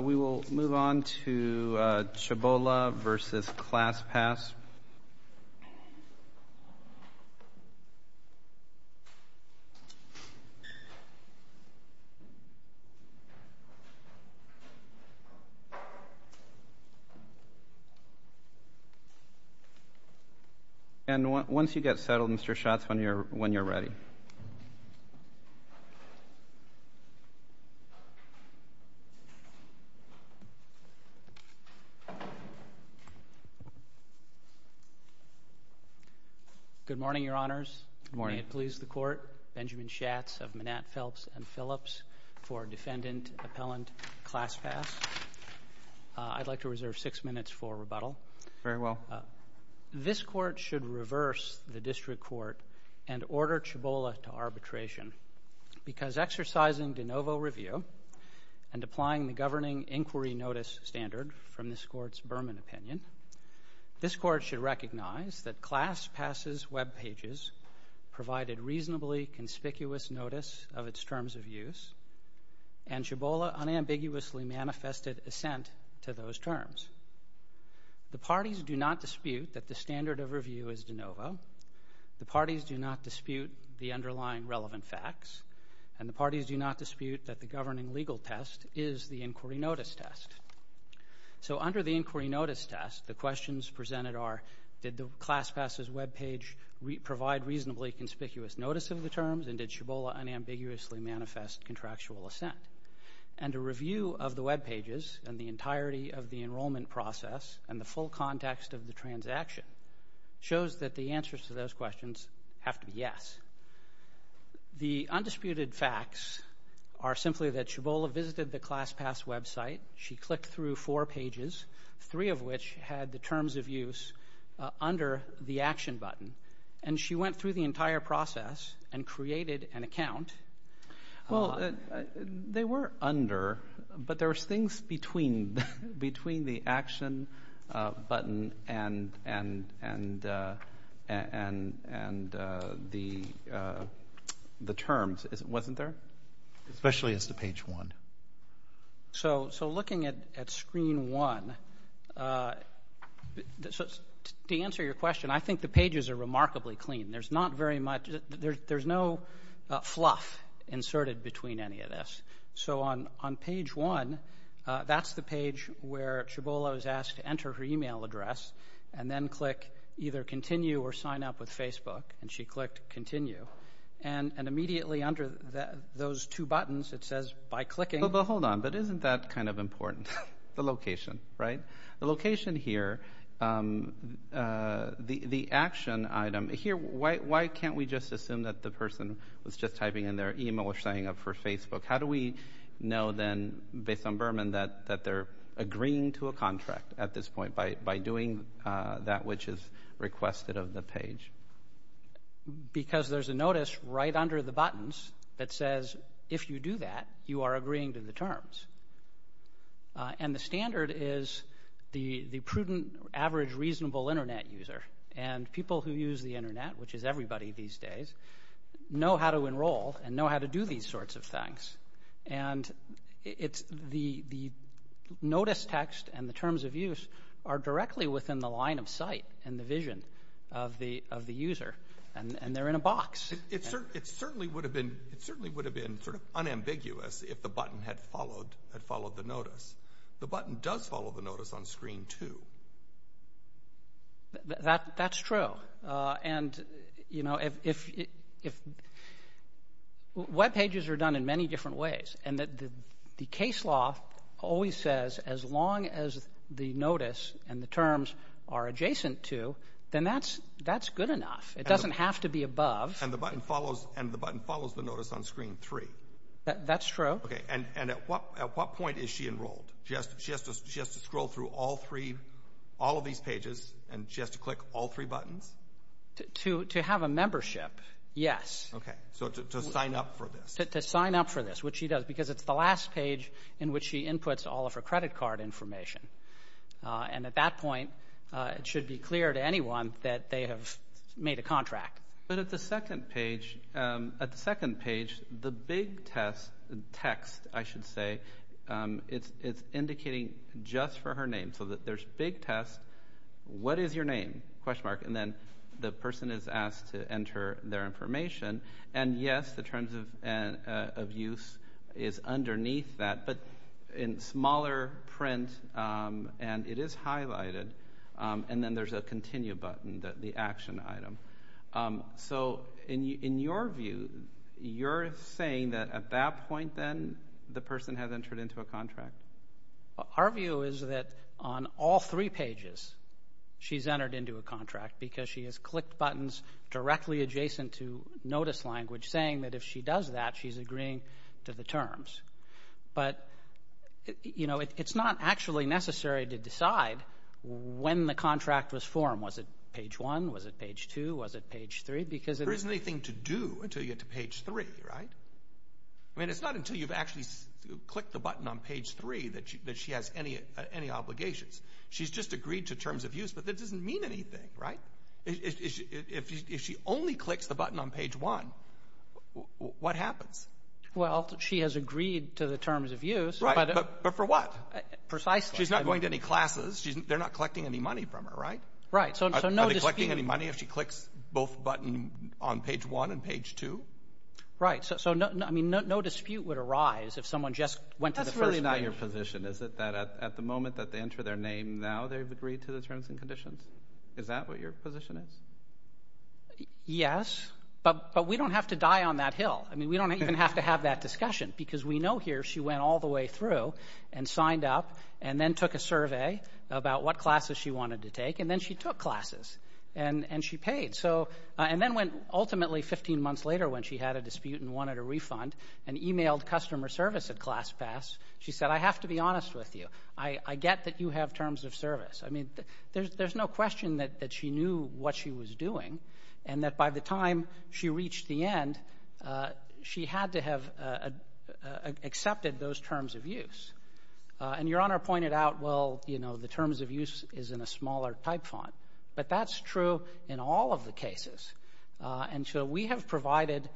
We will move on to Chabolla v. ClassPass. And once you get settled, Mr. Schatz, when you're ready. Good morning, Your Honors. Good morning. May it please the Court, Benjamin Schatz of Manette, Phelps & Phillips for Defendant Appellant ClassPass. I'd like to reserve six minutes for rebuttal. Very well. This Court should reverse the District Court and order Chabolla to arbitration because exercising de novo review and applying the governing inquiry notice standard from this Court's Berman opinion, this Court should recognize that ClassPass's webpages provided reasonably conspicuous notice of its terms of use and Chabolla unambiguously manifested assent to those terms. The parties do not dispute that the standard of review is de novo. The parties do not dispute the underlying relevant facts. And the parties do not dispute that the governing legal test is the inquiry notice test. So under the inquiry notice test, the questions presented are, did the ClassPass's webpage provide reasonably conspicuous notice of the terms and did Chabolla unambiguously manifest contractual assent? And a review of the webpages and the entirety of the enrollment process and the full context of the transaction shows that the answers to those questions have to be yes. The undisputed facts are simply that Chabolla visited the ClassPass website. She clicked through four pages, three of which had the terms of use under the action button, and she went through the entire process and created an account. Well, they were under, but there was things between the action button and the terms, wasn't there? Especially as to page one. So looking at screen one, to answer your question, I think the pages are remarkably clean. There's not very much, there's no fluff inserted between any of this. So on page one, that's the page where Chabolla was asked to enter her e-mail address and then click either continue or sign up with Facebook, and she clicked continue. And immediately under those two buttons, it says by clicking. But hold on, but isn't that kind of important, the location, right? The location here, the action item here, why can't we just assume that the person was just typing in their e-mail or signing up for Facebook? How do we know then, based on Berman, that they're agreeing to a contract at this point by doing that which is requested of the page? Because there's a notice right under the buttons that says if you do that, you are agreeing to the terms. And the standard is the prudent, average, reasonable Internet user. And people who use the Internet, which is everybody these days, know how to enroll and know how to do these sorts of things. And the notice text and the terms of use are directly within the line of sight and the vision of the user, and they're in a box. It certainly would have been sort of unambiguous if the button had followed the notice. The button does follow the notice on screen, too. That's true. And, you know, web pages are done in many different ways, and the case law always says as long as the notice and the terms are adjacent to, then that's good enough. It doesn't have to be above. And the button follows the notice on screen, three. That's true. And at what point is she enrolled? She has to scroll through all three, all of these pages, and she has to click all three buttons? To have a membership, yes. Okay. So to sign up for this. To sign up for this, which she does, because it's the last page in which she inputs all of her credit card information. And at that point, it should be clear to anyone that they have made a contract. But at the second page, the big text, I should say, it's indicating just for her name. So there's big text. What is your name? And then the person is asked to enter their information. And, yes, the terms of use is underneath that. But in smaller print, and it is highlighted. And then there's a continue button, the action item. So in your view, you're saying that at that point, then, the person has entered into a contract? Our view is that on all three pages, she's entered into a contract, because she has clicked buttons directly adjacent to notice language, saying that if she does that, she's agreeing to the terms. But, you know, it's not actually necessary to decide when the contract was formed. Was it page 1? Was it page 2? Was it page 3? There isn't anything to do until you get to page 3, right? I mean, it's not until you've actually clicked the button on page 3 that she has any obligations. She's just agreed to terms of use, but that doesn't mean anything, right? If she only clicks the button on page 1, what happens? Well, she has agreed to the terms of use. But for what? Precisely. She's not going to any classes. They're not collecting any money from her, right? Right. Are they collecting any money if she clicks both buttons on page 1 and page 2? Right. So, I mean, no dispute would arise if someone just went to the first page. That's really not your position, is it, that at the moment that they enter their name, now they've agreed to the terms and conditions? Is that what your position is? Yes, but we don't have to die on that hill. I mean, we don't even have to have that discussion because we know here she went all the way through and signed up and then took a survey about what classes she wanted to take, and then she took classes, and she paid. And then, ultimately, 15 months later, when she had a dispute and wanted a refund and emailed customer service at ClassPass, she said, I have to be honest with you. I get that you have terms of service. I mean, there's no question that she knew what she was doing and that by the time she reached the end, she had to have accepted those terms of use. And Your Honor pointed out, well, you know, the terms of use is in a smaller type font. But that's true in all of the cases. And so we have provided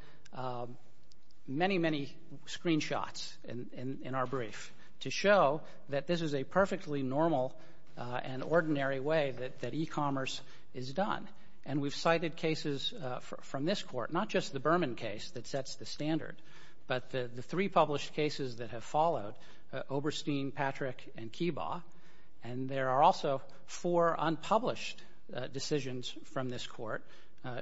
many, many screenshots in our brief to show that this is a perfectly normal and ordinary way that e-commerce is done. And we've cited cases from this court, not just the Berman case that sets the standard, but the three published cases that have followed, Oberstein, Patrick, and Kiba. And there are also four unpublished decisions from this court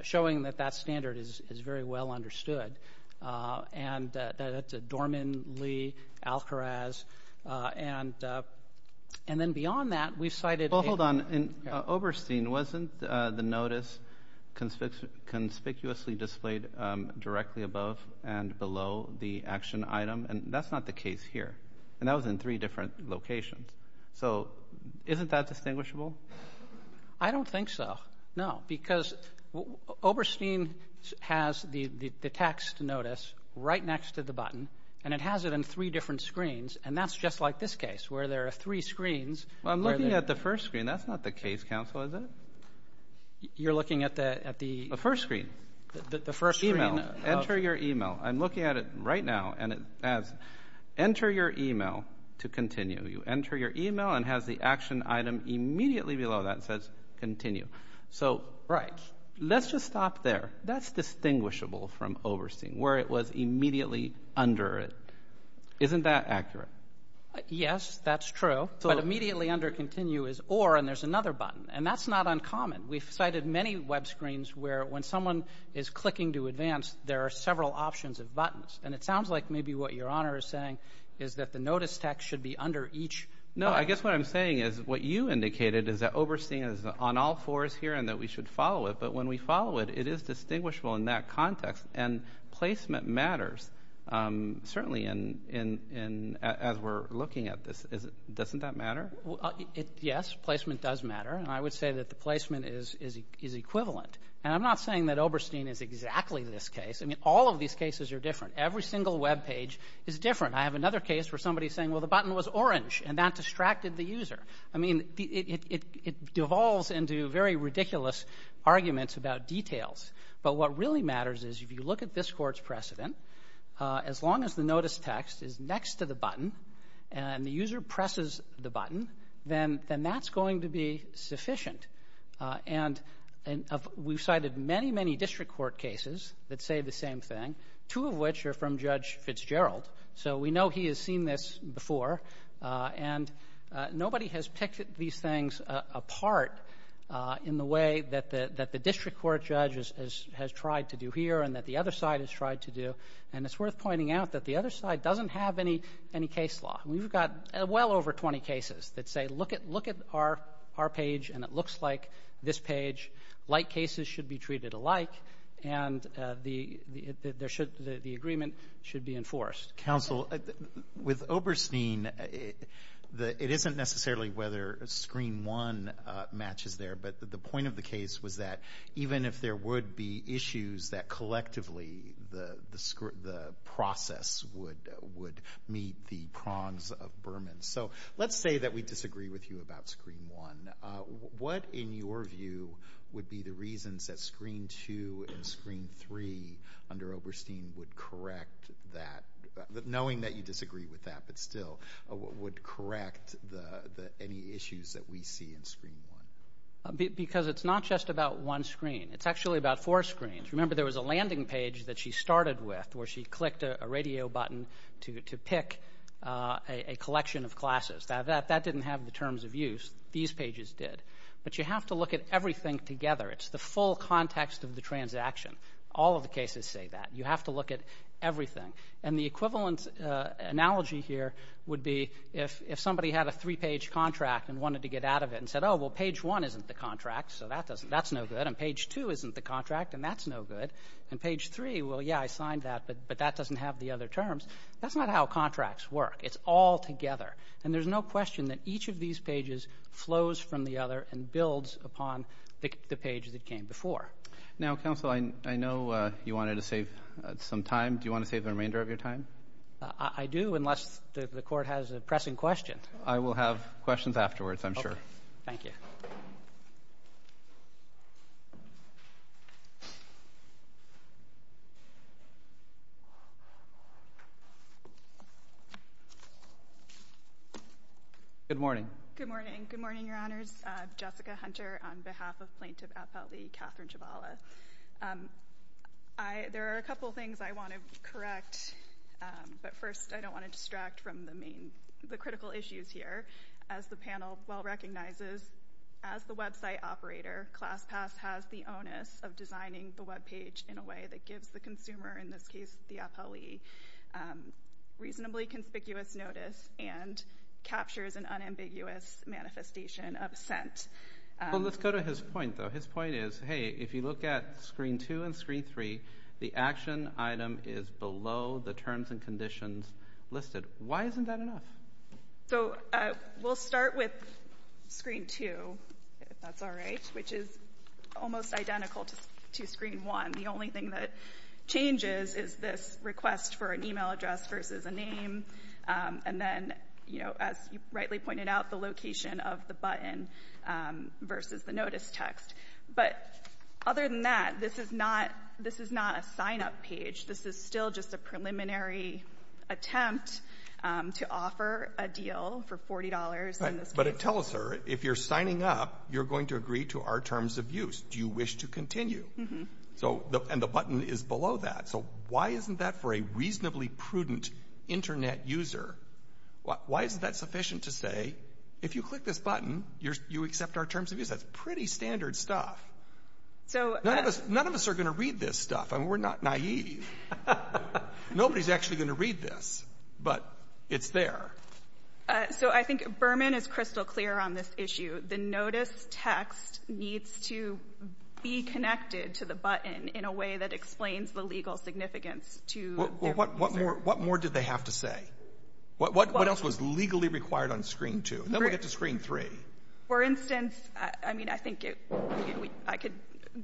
showing that that standard is very well understood. And that's Dorman, Lee, Alcaraz. And then beyond that, we've cited cases. Well, hold on. In Oberstein, wasn't the notice conspicuously displayed directly above and below the action item? And that's not the case here. And that was in three different locations. So isn't that distinguishable? I don't think so, no. Because Oberstein has the text notice right next to the button, and it has it in three different screens, and that's just like this case where there are three screens. Well, I'm looking at the first screen. That's not the case, counsel, is it? You're looking at the first screen? The first screen. Enter your email. I'm looking at it right now, and it says enter your email to continue. You enter your email and it has the action item immediately below that. It says continue. So let's just stop there. That's distinguishable from Oberstein, where it was immediately under it. Isn't that accurate? Yes, that's true. But immediately under continue is or, and there's another button. And that's not uncommon. We've cited many web screens where when someone is clicking to advance, there are several options of buttons. And it sounds like maybe what Your Honor is saying is that the notice text should be under each button. No, I guess what I'm saying is what you indicated is that Oberstein is on all fours here and that we should follow it. But when we follow it, it is distinguishable in that context. And placement matters, certainly as we're looking at this. Doesn't that matter? Yes, placement does matter. And I would say that the placement is equivalent. And I'm not saying that Oberstein is exactly this case. I mean, all of these cases are different. Every single web page is different. I have another case where somebody is saying, well, the button was orange, and that distracted the user. I mean, it devolves into very ridiculous arguments about details. But what really matters is if you look at this Court's precedent, as long as the notice text is next to the button and the user presses the button, then that's going to be sufficient. And we've cited many, many district court cases that say the same thing, two of which are from Judge Fitzgerald. So we know he has seen this before. And nobody has picked these things apart in the way that the district court judge has tried to do here and that the other side has tried to do. And it's worth pointing out that the other side doesn't have any case law. We've got well over 20 cases that say, look at our page, and it looks like this page. Like cases should be treated alike, and the agreement should be enforced. Counsel, with Oberstein, it isn't necessarily whether Screen 1 matches there, but the point of the case was that even if there would be issues, that collectively the process would meet the prongs of Berman. So let's say that we disagree with you about Screen 1. What, in your view, would be the reasons that Screen 2 and Screen 3 under Oberstein would correct that, knowing that you disagree with that, but still would correct any issues that we see in Screen 1? Because it's not just about one screen. It's actually about four screens. Remember there was a landing page that she started with where she clicked a radio button to pick a collection of classes. That didn't have the terms of use. These pages did. But you have to look at everything together. It's the full context of the transaction. All of the cases say that. You have to look at everything. And the equivalent analogy here would be if somebody had a three-page contract and wanted to get out of it and said, oh, well, page one isn't the contract, so that's no good, and page two isn't the contract, and that's no good, and page three, well, yeah, I signed that, but that doesn't have the other terms. That's not how contracts work. It's all together. And there's no question that each of these pages flows from the other and builds upon the page that came before. Now, Counsel, I know you wanted to save some time. Do you want to save the remainder of your time? I do, unless the Court has a pressing question. I will have questions afterwards, I'm sure. Thank you. Good morning. Good morning. Good morning, Your Honors. I'm Jessica Hunter on behalf of Plaintiff Appellee Kathryn Chabala. There are a couple of things I want to correct, but first I don't want to distract from the critical issues here. As the panel well recognizes, as the website operator, ClassPass has the onus of designing the webpage in a way that gives the consumer, in this case the appellee, reasonably conspicuous notice and captures an unambiguous manifestation of scent. Well, let's go to his point, though. His point is, hey, if you look at screen two and screen three, the action item is below the terms and conditions listed. Why isn't that enough? So we'll start with screen two, if that's all right, which is almost identical to screen one. The only thing that changes is this request for an e-mail address versus a name, and then, you know, as you rightly pointed out, the location of the button versus the notice text. But other than that, this is not a sign-up page. This is still just a preliminary attempt to offer a deal for $40 in this case. But it tells her if you're signing up, you're going to agree to our terms of use. Do you wish to continue? And the button is below that. So why isn't that for a reasonably prudent Internet user? Why isn't that sufficient to say if you click this button, you accept our terms of use? That's pretty standard stuff. None of us are going to read this stuff. I mean, we're not naive. Nobody's actually going to read this, but it's there. So I think Berman is crystal clear on this issue. The notice text needs to be connected to the button in a way that explains the legal significance to the user. Well, what more did they have to say? What else was legally required on screen two? And then we'll get to screen three. For instance, I mean, I think I could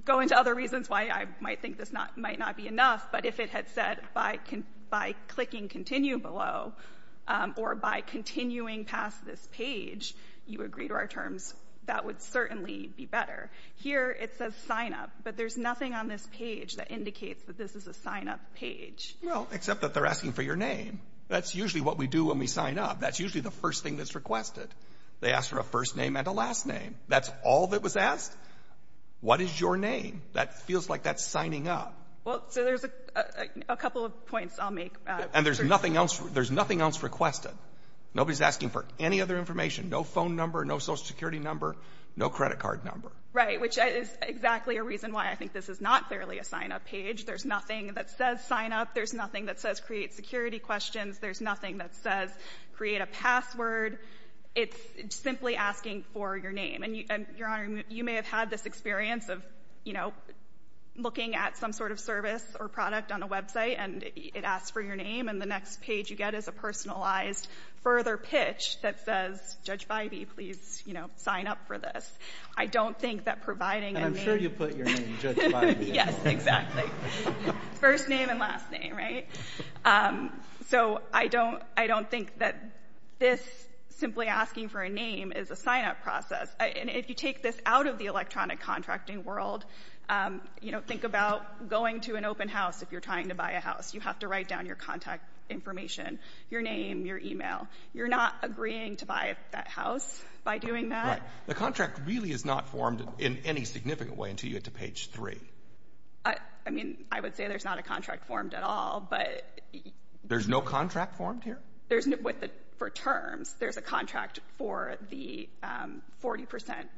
go into other reasons why I might think this might not be enough, but if it had said by clicking continue below or by continuing past this page, you agree to our terms, that would certainly be better. Here it says sign up. But there's nothing on this page that indicates that this is a sign-up page. Well, except that they're asking for your name. That's usually what we do when we sign up. That's usually the first thing that's requested. They ask for a first name and a last name. That's all that was asked? What is your name? That feels like that's signing up. Well, so there's a couple of points I'll make. And there's nothing else requested. Nobody's asking for any other information, no phone number, no Social Security number, no credit card number. Right, which is exactly a reason why I think this is not clearly a sign-up page. There's nothing that says sign up. There's nothing that says create security questions. There's nothing that says create a password. It's simply asking for your name. And, Your Honor, you may have had this experience of, you know, looking at some sort of service or product on a website, and it asks for your name. And the next page you get is a personalized further pitch that says, Judge Bybee, please, you know, sign up for this. I don't think that providing a name. And I'm sure you put your name, Judge Bybee. Yes, exactly. First name and last name, right? So I don't think that this simply asking for a name is a sign-up process. And if you take this out of the electronic contracting world, you know, think about going to an open house. If you're trying to buy a house, you have to write down your contact information, your name, your e-mail. You're not agreeing to buy that house by doing that. The contract really is not formed in any significant way until you get to page 3. I mean, I would say there's not a contract formed at all, but — There's no contract formed here? For terms, there's a contract for the 40 percent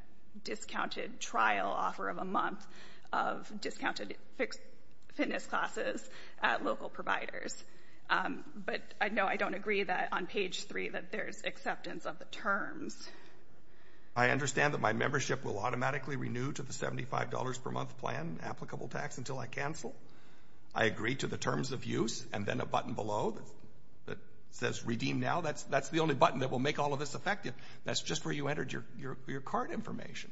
discounted trial offer of a month of discounted fitness classes at local providers. But, no, I don't agree that on page 3 that there's acceptance of the terms. I understand that my membership will automatically renew to the $75 per month plan applicable tax until I cancel. I agree to the terms of use and then a button below that says redeem now. That's the only button that will make all of this effective. That's just where you entered your cart information.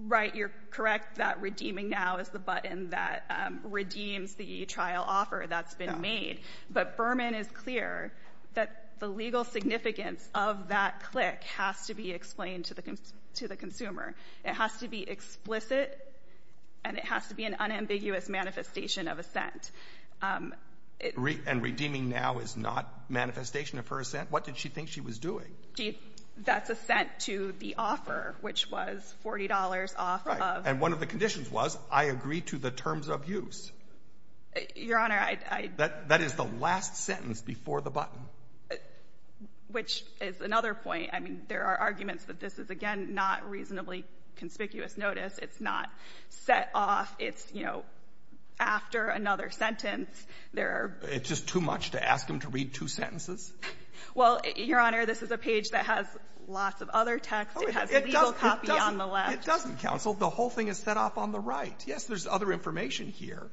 Right. You're correct that redeeming now is the button that redeems the trial offer that's been made. But Berman is clear that the legal significance of that click has to be explained to the consumer. It has to be explicit, and it has to be an unambiguous manifestation of assent. And redeeming now is not manifestation of her assent? What did she think she was doing? That's assent to the offer, which was $40 off of — Right. And one of the conditions was I agree to the terms of use. Your Honor, I — That is the last sentence before the button. Which is another point. I mean, there are arguments that this is, again, not reasonably conspicuous notice. It's not set off. It's, you know, after another sentence, there are — It's just too much to ask him to read two sentences? Well, Your Honor, this is a page that has lots of other text. It has a legal copy on the left. It doesn't, Counsel. The whole thing is set off on the right. Yes, there's other information here,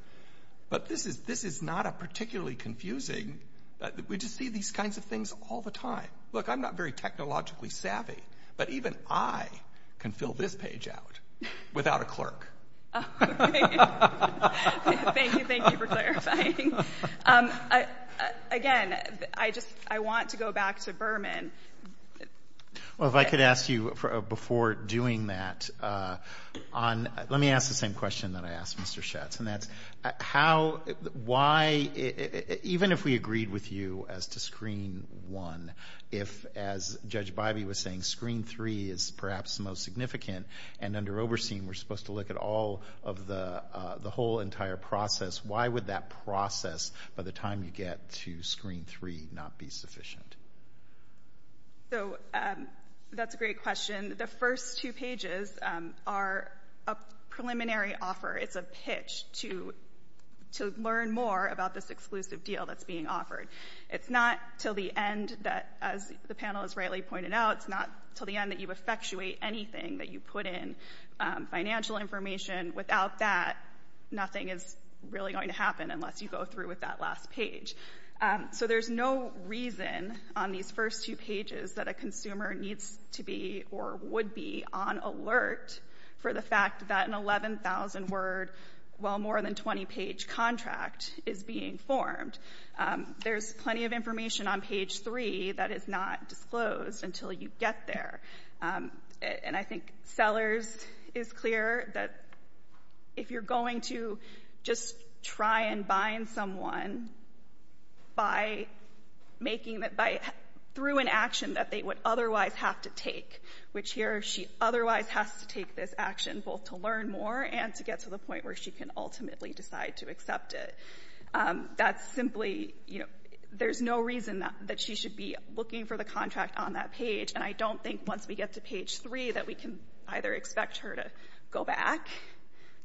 but this is — this is not a particularly confusing — we just see these kinds of things all the time. Look, I'm not very technologically savvy, but even I can fill this page out without a clerk. Thank you. Thank you for clarifying. Again, I just — I want to go back to Berman. Well, if I could ask you, before doing that, on — let me ask the same question that I asked Mr. Schatz, and that's how — why — even if we agreed with you as to Screen 1, if, as Judge Bybee was saying, Screen 3 is perhaps the most significant and under Overseen we're supposed to look at all of the whole entire process, why would that process, by the time you get to Screen 3, not be sufficient? So that's a great question. The first two pages are a preliminary offer. It's a pitch to learn more about this exclusive deal that's being offered. It's not until the end that, as the panel has rightly pointed out, it's not until the end that you effectuate anything that you put in, financial information. Without that, nothing is really going to happen unless you go through with that last page. So there's no reason on these first two pages that a consumer needs to be or would be on alert for the fact that an 11,000-word, well, more than 20-page contract is being formed. There's plenty of information on page 3 that is not disclosed until you get there. And I think Sellers is clear that if you're going to just try and bind someone by making — through an action that they would otherwise have to take, which here she otherwise has to take this action both to learn more and to get to the point where she can ultimately decide to accept it. That's simply — you know, there's no reason that she should be looking for the contract on that page. And I don't think once we get to page 3 that we can either expect her to go back,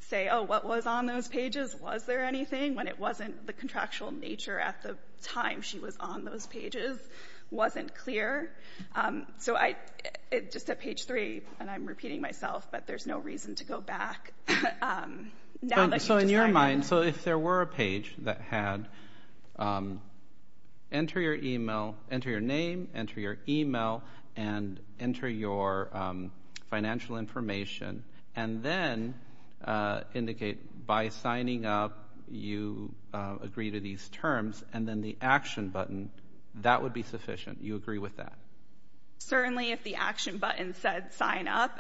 say, oh, what was on those pages, was there anything, when it wasn't the contractual nature at the time she was on those pages wasn't clear. So I — just at page 3, and I'm repeating myself, but there's no reason to go back. So in your mind, so if there were a page that had enter your email, enter your name, enter your email, and enter your financial information, and then indicate by signing up you agree to these terms, and then the action button, that would be sufficient, you agree with that? Certainly, if the action button said sign up,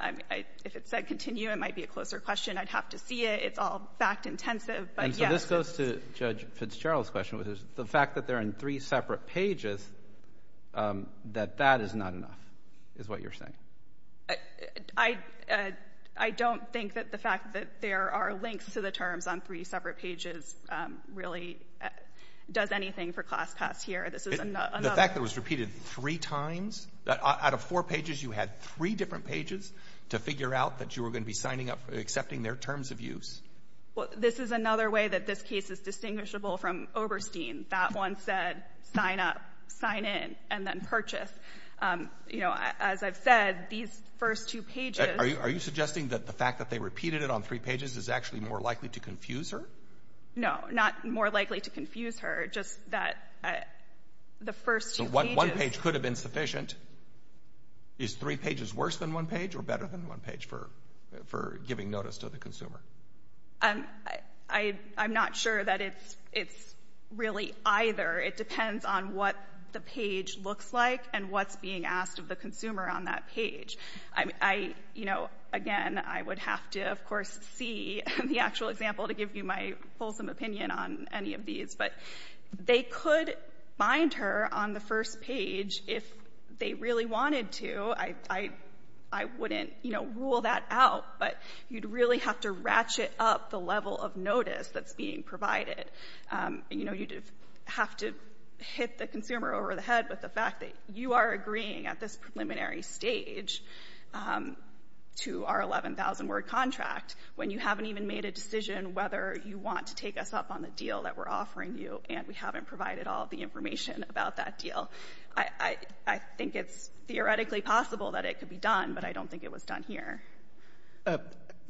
if it said continue, it might be a closer question. I'd have to see it. It's all fact-intensive, but yes. And so this goes to Judge Fitzgerald's question, which is the fact that they're in three separate pages, that that is not enough, is what you're saying? I don't think that the fact that there are links to the terms on three separate pages really does anything for class pass here. This is another — The fact that it was repeated three times? Out of four pages, you had three different pages to figure out that you were going to be signing up, accepting their terms of use. Well, this is another way that this case is distinguishable from Oberstein. That one said sign up, sign in, and then purchase. You know, as I've said, these first two pages — Are you suggesting that the fact that they repeated it on three pages is actually more likely to confuse her? No, not more likely to confuse her, just that the first two pages — Is three pages worse than one page or better than one page for giving notice to the consumer? I'm not sure that it's really either. It depends on what the page looks like and what's being asked of the consumer on that page. I, you know, again, I would have to, of course, see the actual example to give you my fulsome opinion on any of these. But they could find her on the first page if they really wanted to. I wouldn't, you know, rule that out. But you'd really have to ratchet up the level of notice that's being provided. You know, you'd have to hit the consumer over the head with the fact that you are agreeing at this preliminary stage to our 11,000-word contract when you haven't even made a decision whether you want to take us up on the deal that we're offering you and we haven't provided all the information about that deal. I think it's theoretically possible that it could be done, but I don't think it was done here.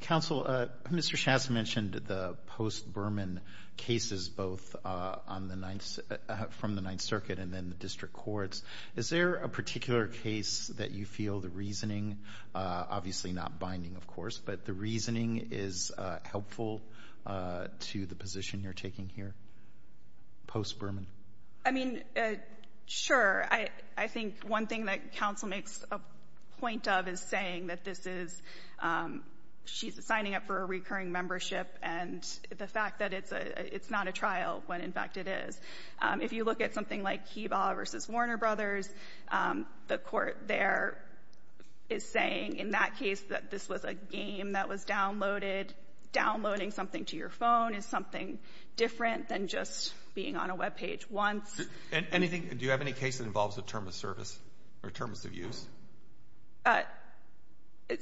Counsel, Mr. Shast mentioned the post-Berman cases both on the Ninth — from the Ninth Circuit and then the district courts. Is there a particular case that you feel the reasoning — obviously not binding, of course, but the reasoning is helpful to the position you're taking here post-Berman? I mean, sure. I think one thing that counsel makes a point of is saying that this is — she's signing up for a recurring membership and the fact that it's not a trial when, in fact, it is. If you look at something like Heba v. Warner Brothers, the court there is saying in that case that this was a game that was downloaded. Downloading something to your phone is something different than just being on a Web page once. Anything — do you have any case that involves a term of service or terms of use?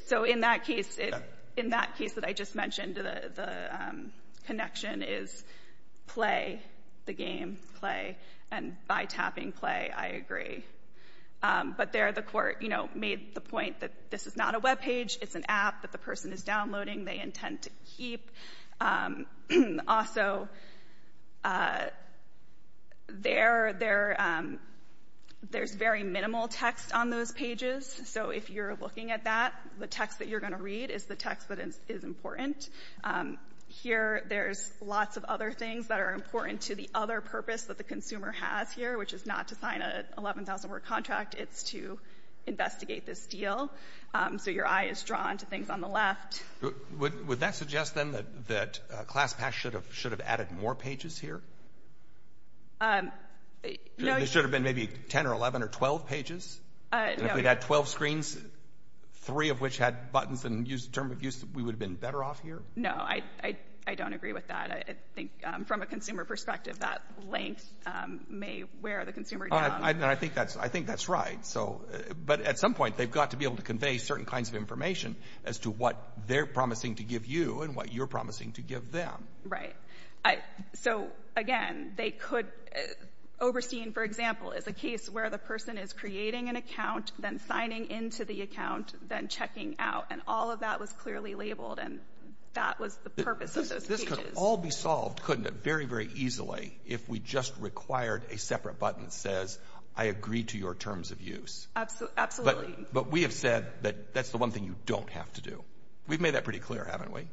So in that case, it — in that case that I just mentioned, the connection is play, the game, play. And by tapping play, I agree. But there the court, you know, made the point that this is not a Web page. It's an app that the person is downloading. They intend to keep. Also, there's very minimal text on those pages. So if you're looking at that, the text that you're going to read is the text that is important. Here there's lots of other things that are important to the other purpose that the consumer has here, which is not to sign an 11,000-word contract. It's to investigate this deal. So your eye is drawn to things on the left. Would that suggest, then, that ClassPass should have added more pages here? No. There should have been maybe 10 or 11 or 12 pages. No. If we'd had 12 screens, three of which had buttons and used terms of use, we would have been better off here? No, I don't agree with that. I think from a consumer perspective, that length may wear the consumer down. I think that's right. But at some point, they've got to be able to convey certain kinds of information as to what they're promising to give you and what you're promising to give them. Right. So, again, they could – Oberstein, for example, is a case where the person is creating an account, then signing into the account, then checking out, and all of that was clearly labeled, and that was the purpose of those pages. This could all be solved, couldn't it, very, very easily if we just required a separate button that says, I agree to your terms of use. Absolutely. But we have said that that's the one thing you don't have to do. We've made that pretty clear, haven't we?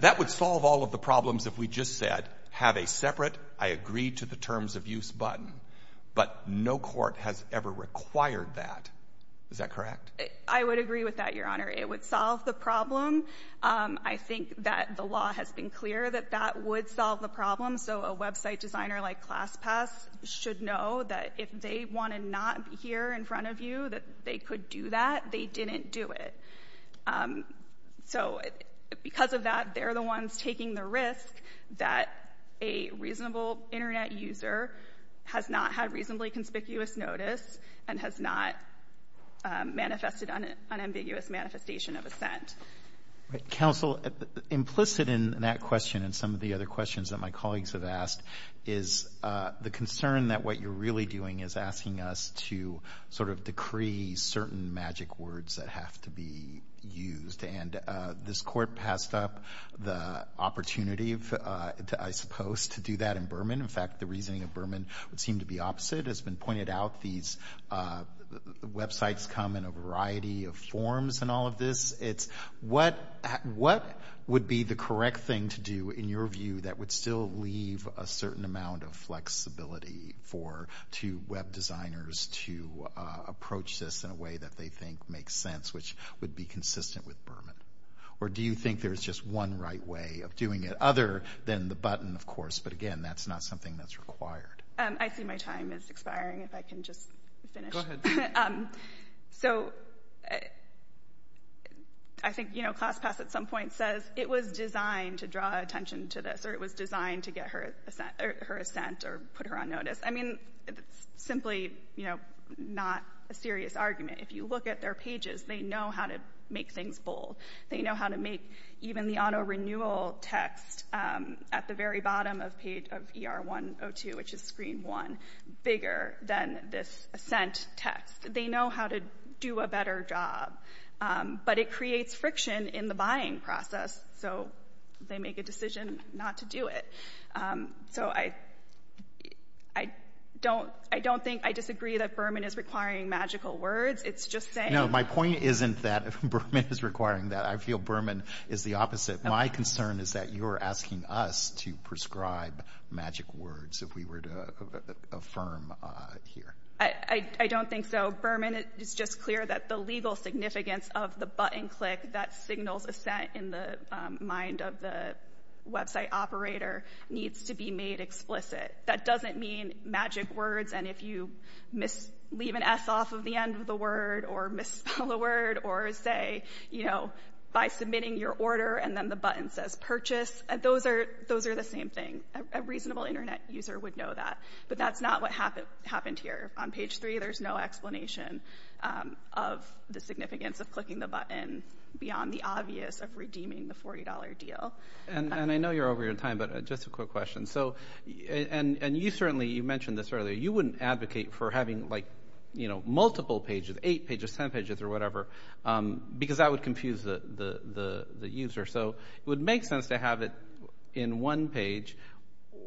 That would solve all of the problems if we just said, have a separate I agree to the terms of use button. But no court has ever required that. Is that correct? I would agree with that, Your Honor. It would solve the problem. I think that the law has been clear that that would solve the problem. So a website designer like ClassPass should know that if they want to not be here in front of you, that they could do that. They didn't do it. So because of that, they're the ones taking the risk that a reasonable Internet user has not had reasonably conspicuous notice and has not manifested an unambiguous manifestation of assent. Counsel, implicit in that question and some of the other questions that my colleagues have asked is the concern that what you're really doing is asking us to sort of decree certain magic words that have to be used. And this court passed up the opportunity, I suppose, to do that in Berman. In fact, the reasoning of Berman would seem to be opposite. It's been pointed out these websites come in a variety of forms in all of this. It's what would be the correct thing to do in your view that would still leave a certain amount of flexibility for two web designers to approach this in a way that they think makes sense, which would be consistent with Berman? Or do you think there's just one right way of doing it other than the button, of course, but, again, that's not something that's required? I see my time is expiring. If I can just finish. So I think ClassPass at some point says it was designed to draw attention to this or it was designed to get her assent or put her on notice. I mean, it's simply not a serious argument. If you look at their pages, they know how to make things bold. They know how to make even the auto-renewal text at the very bottom of page ER-102, which is screen one, bigger than this assent text. They know how to do a better job. But it creates friction in the buying process, so they make a decision not to do it. So I don't think I disagree that Berman is requiring magical words. It's just saying — I feel Berman is the opposite. My concern is that you're asking us to prescribe magic words if we were to affirm here. I don't think so. Berman, it's just clear that the legal significance of the button click that signals assent in the mind of the website operator needs to be made explicit. That doesn't mean magic words, and if you leave an S off of the end of the word or misspell a word or say, you know, by submitting your order and then the button says purchase, those are the same thing. A reasonable Internet user would know that. But that's not what happened here. On page three, there's no explanation of the significance of clicking the button beyond the obvious of redeeming the $40 deal. And I know you're over your time, but just a quick question. And you certainly, you mentioned this earlier, you wouldn't advocate for having, like, you know, multiple pages, eight pages, ten pages or whatever, because that would confuse the user. So it would make sense to have it in one page,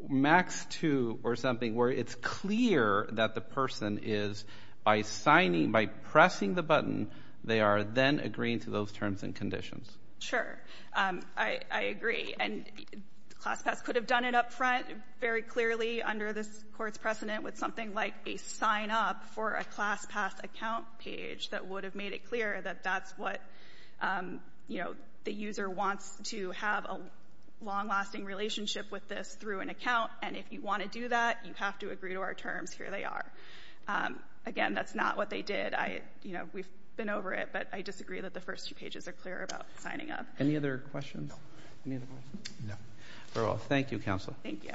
max two or something, where it's clear that the person is, by signing, by pressing the button, they are then agreeing to those terms and conditions. Sure. I agree. And ClassPass could have done it up front very clearly under this Court's precedent with something like a sign-up for a ClassPass account page that would have made it clear that that's what, you know, the user wants to have a long-lasting relationship with this through an account. And if you want to do that, you have to agree to our terms. Here they are. Again, that's not what they did. You know, we've been over it, but I disagree that the first two pages are clear about signing up. Any other questions? No. Thank you, Counsel. Thank you.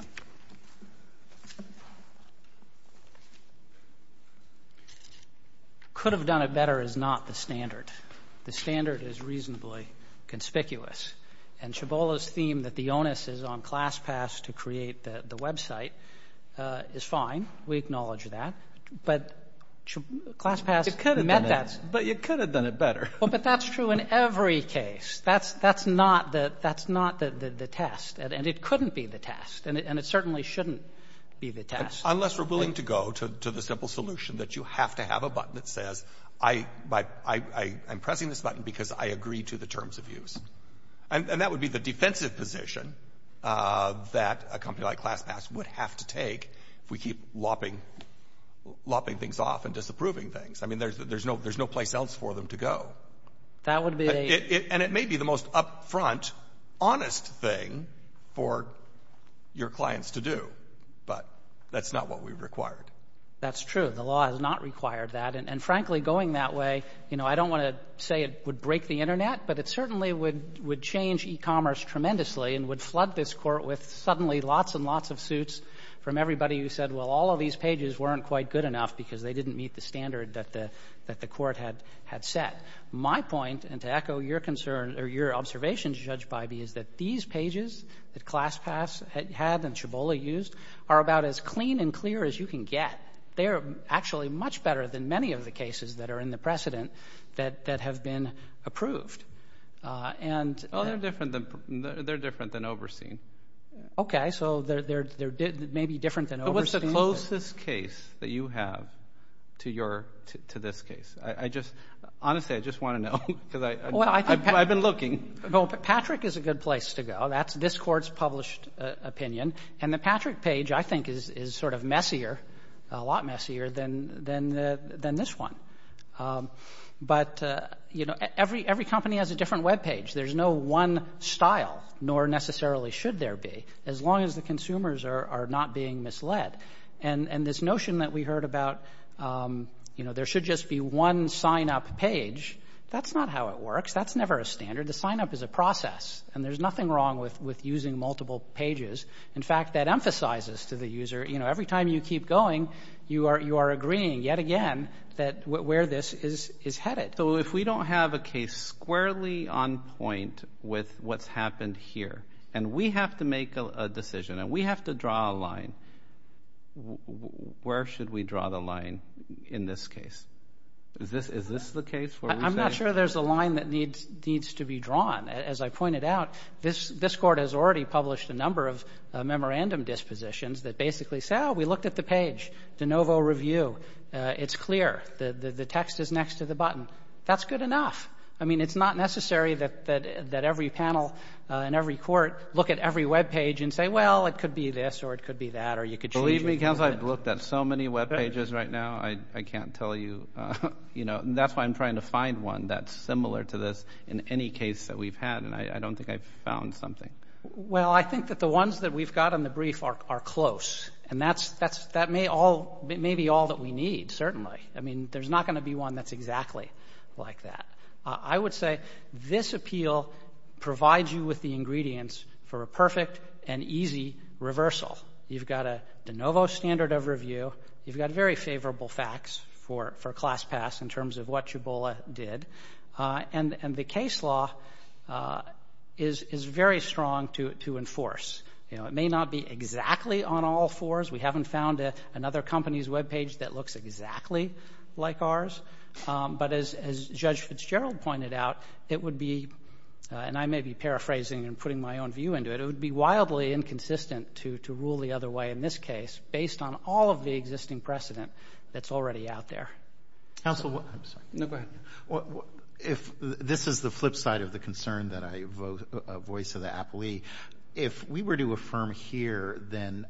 Could have done it better is not the standard. The standard is reasonably conspicuous. And Chabola's theme that the onus is on ClassPass to create the website is fine. We acknowledge that. But ClassPass met that. But you could have done it better. Well, but that's true in every case. That's not the test. And it couldn't be the test. And it certainly shouldn't be the test. Unless we're willing to go to the simple solution that you have to have a button that says I'm pressing this button because I agree to the terms of use. And that would be the defensive position that a company like ClassPass would have to take if we keep lopping things off and disapproving things. I mean, there's no place else for them to go. That would be a And it may be the most upfront, honest thing for your clients to do. But that's not what we've required. That's true. The law has not required that. And, frankly, going that way, you know, I don't want to say it would break the Internet, but it certainly would change e-commerce tremendously and would flood this Court with suddenly lots and lots of suits from everybody who said, well, all of these pages weren't quite good enough because they didn't meet the standard that the Court had set. My point, and to echo your concern or your observation, Judge Bybee, is that these pages that ClassPass had and Chabola used are about as clean and clear as you can get. They are actually much better than many of the cases that are in the precedent that have been approved. Well, they're different than overseen. Okay. So they're maybe different than overseen. What's the closest case that you have to your to this case? I just — honestly, I just want to know because I've been looking. Well, Patrick is a good place to go. That's this Court's published opinion. And the Patrick page, I think, is sort of messier, a lot messier than this one. But, you know, every company has a different web page. There's no one style, nor necessarily should there be, as long as the consumers are not being misled. And this notion that we heard about, you know, there should just be one sign-up page, that's not how it works. That's never a standard. The sign-up is a process. And there's nothing wrong with using multiple pages. In fact, that emphasizes to the user, you know, every time you keep going, you are agreeing yet again where this is headed. So if we don't have a case squarely on point with what's happened here, and we have to make a decision, and we have to draw a line, where should we draw the line in this case? Is this the case? I'm not sure there's a line that needs to be drawn. As I pointed out, this Court has already published a number of memorandum dispositions that basically say, oh, we looked at the page, the novo review, it's clear, the text is next to the button. That's good enough. I mean, it's not necessary that every panel and every Court look at every webpage and say, well, it could be this or it could be that or you could change it. Believe me, counsel, I've looked at so many webpages right now, I can't tell you, you know. That's why I'm trying to find one that's similar to this in any case that we've had, and I don't think I've found something. Well, I think that the ones that we've got on the brief are close. And that may be all that we need, certainly. I mean, there's not going to be one that's exactly like that. I would say this appeal provides you with the ingredients for a perfect and easy reversal. You've got a de novo standard of review. You've got very favorable facts for class pass in terms of what Chibola did. And the case law is very strong to enforce. You know, it may not be exactly on all fours. We haven't found another company's webpage that looks exactly like ours. But as Judge Fitzgerald pointed out, it would be, and I may be paraphrasing and putting my own view into it, it would be wildly inconsistent to rule the other way in this case based on all of the existing precedent that's already out there. Counsel, I'm sorry. No, go ahead. If this is the flip side of the concern that I voice to the appellee, if we were to affirm here, then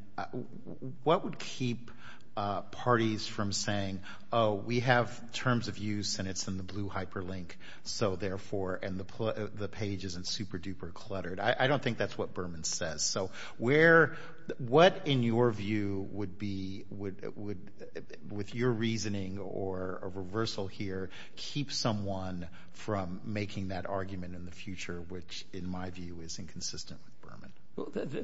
what would keep parties from saying, oh, we have terms of use and it's in the blue hyperlink, so therefore, and the page isn't super duper cluttered. I don't think that's what Berman says. So what, in your view, would be, with your reasoning or a reversal here, keep someone from making that argument in the future, which, in my view, is inconsistent with Berman?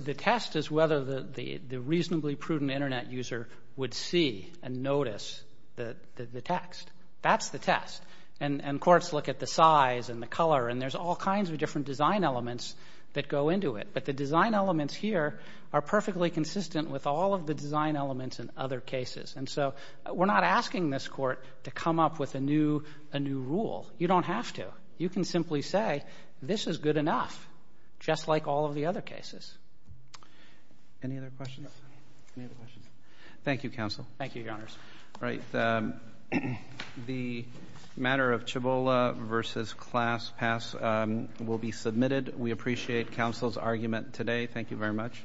The test is whether the reasonably prudent Internet user would see and notice the text. That's the test. And courts look at the size and the color, and there's all kinds of different design elements that go into it. But the design elements here are perfectly consistent with all of the design elements in other cases. And so we're not asking this court to come up with a new rule. You don't have to. You can simply say, this is good enough, just like all of the other cases. Any other questions? Any other questions? Thank you, counsel. Thank you, Your Honors. All right. The matter of Chabola versus class pass will be submitted. We appreciate counsel's argument today. Thank you very much.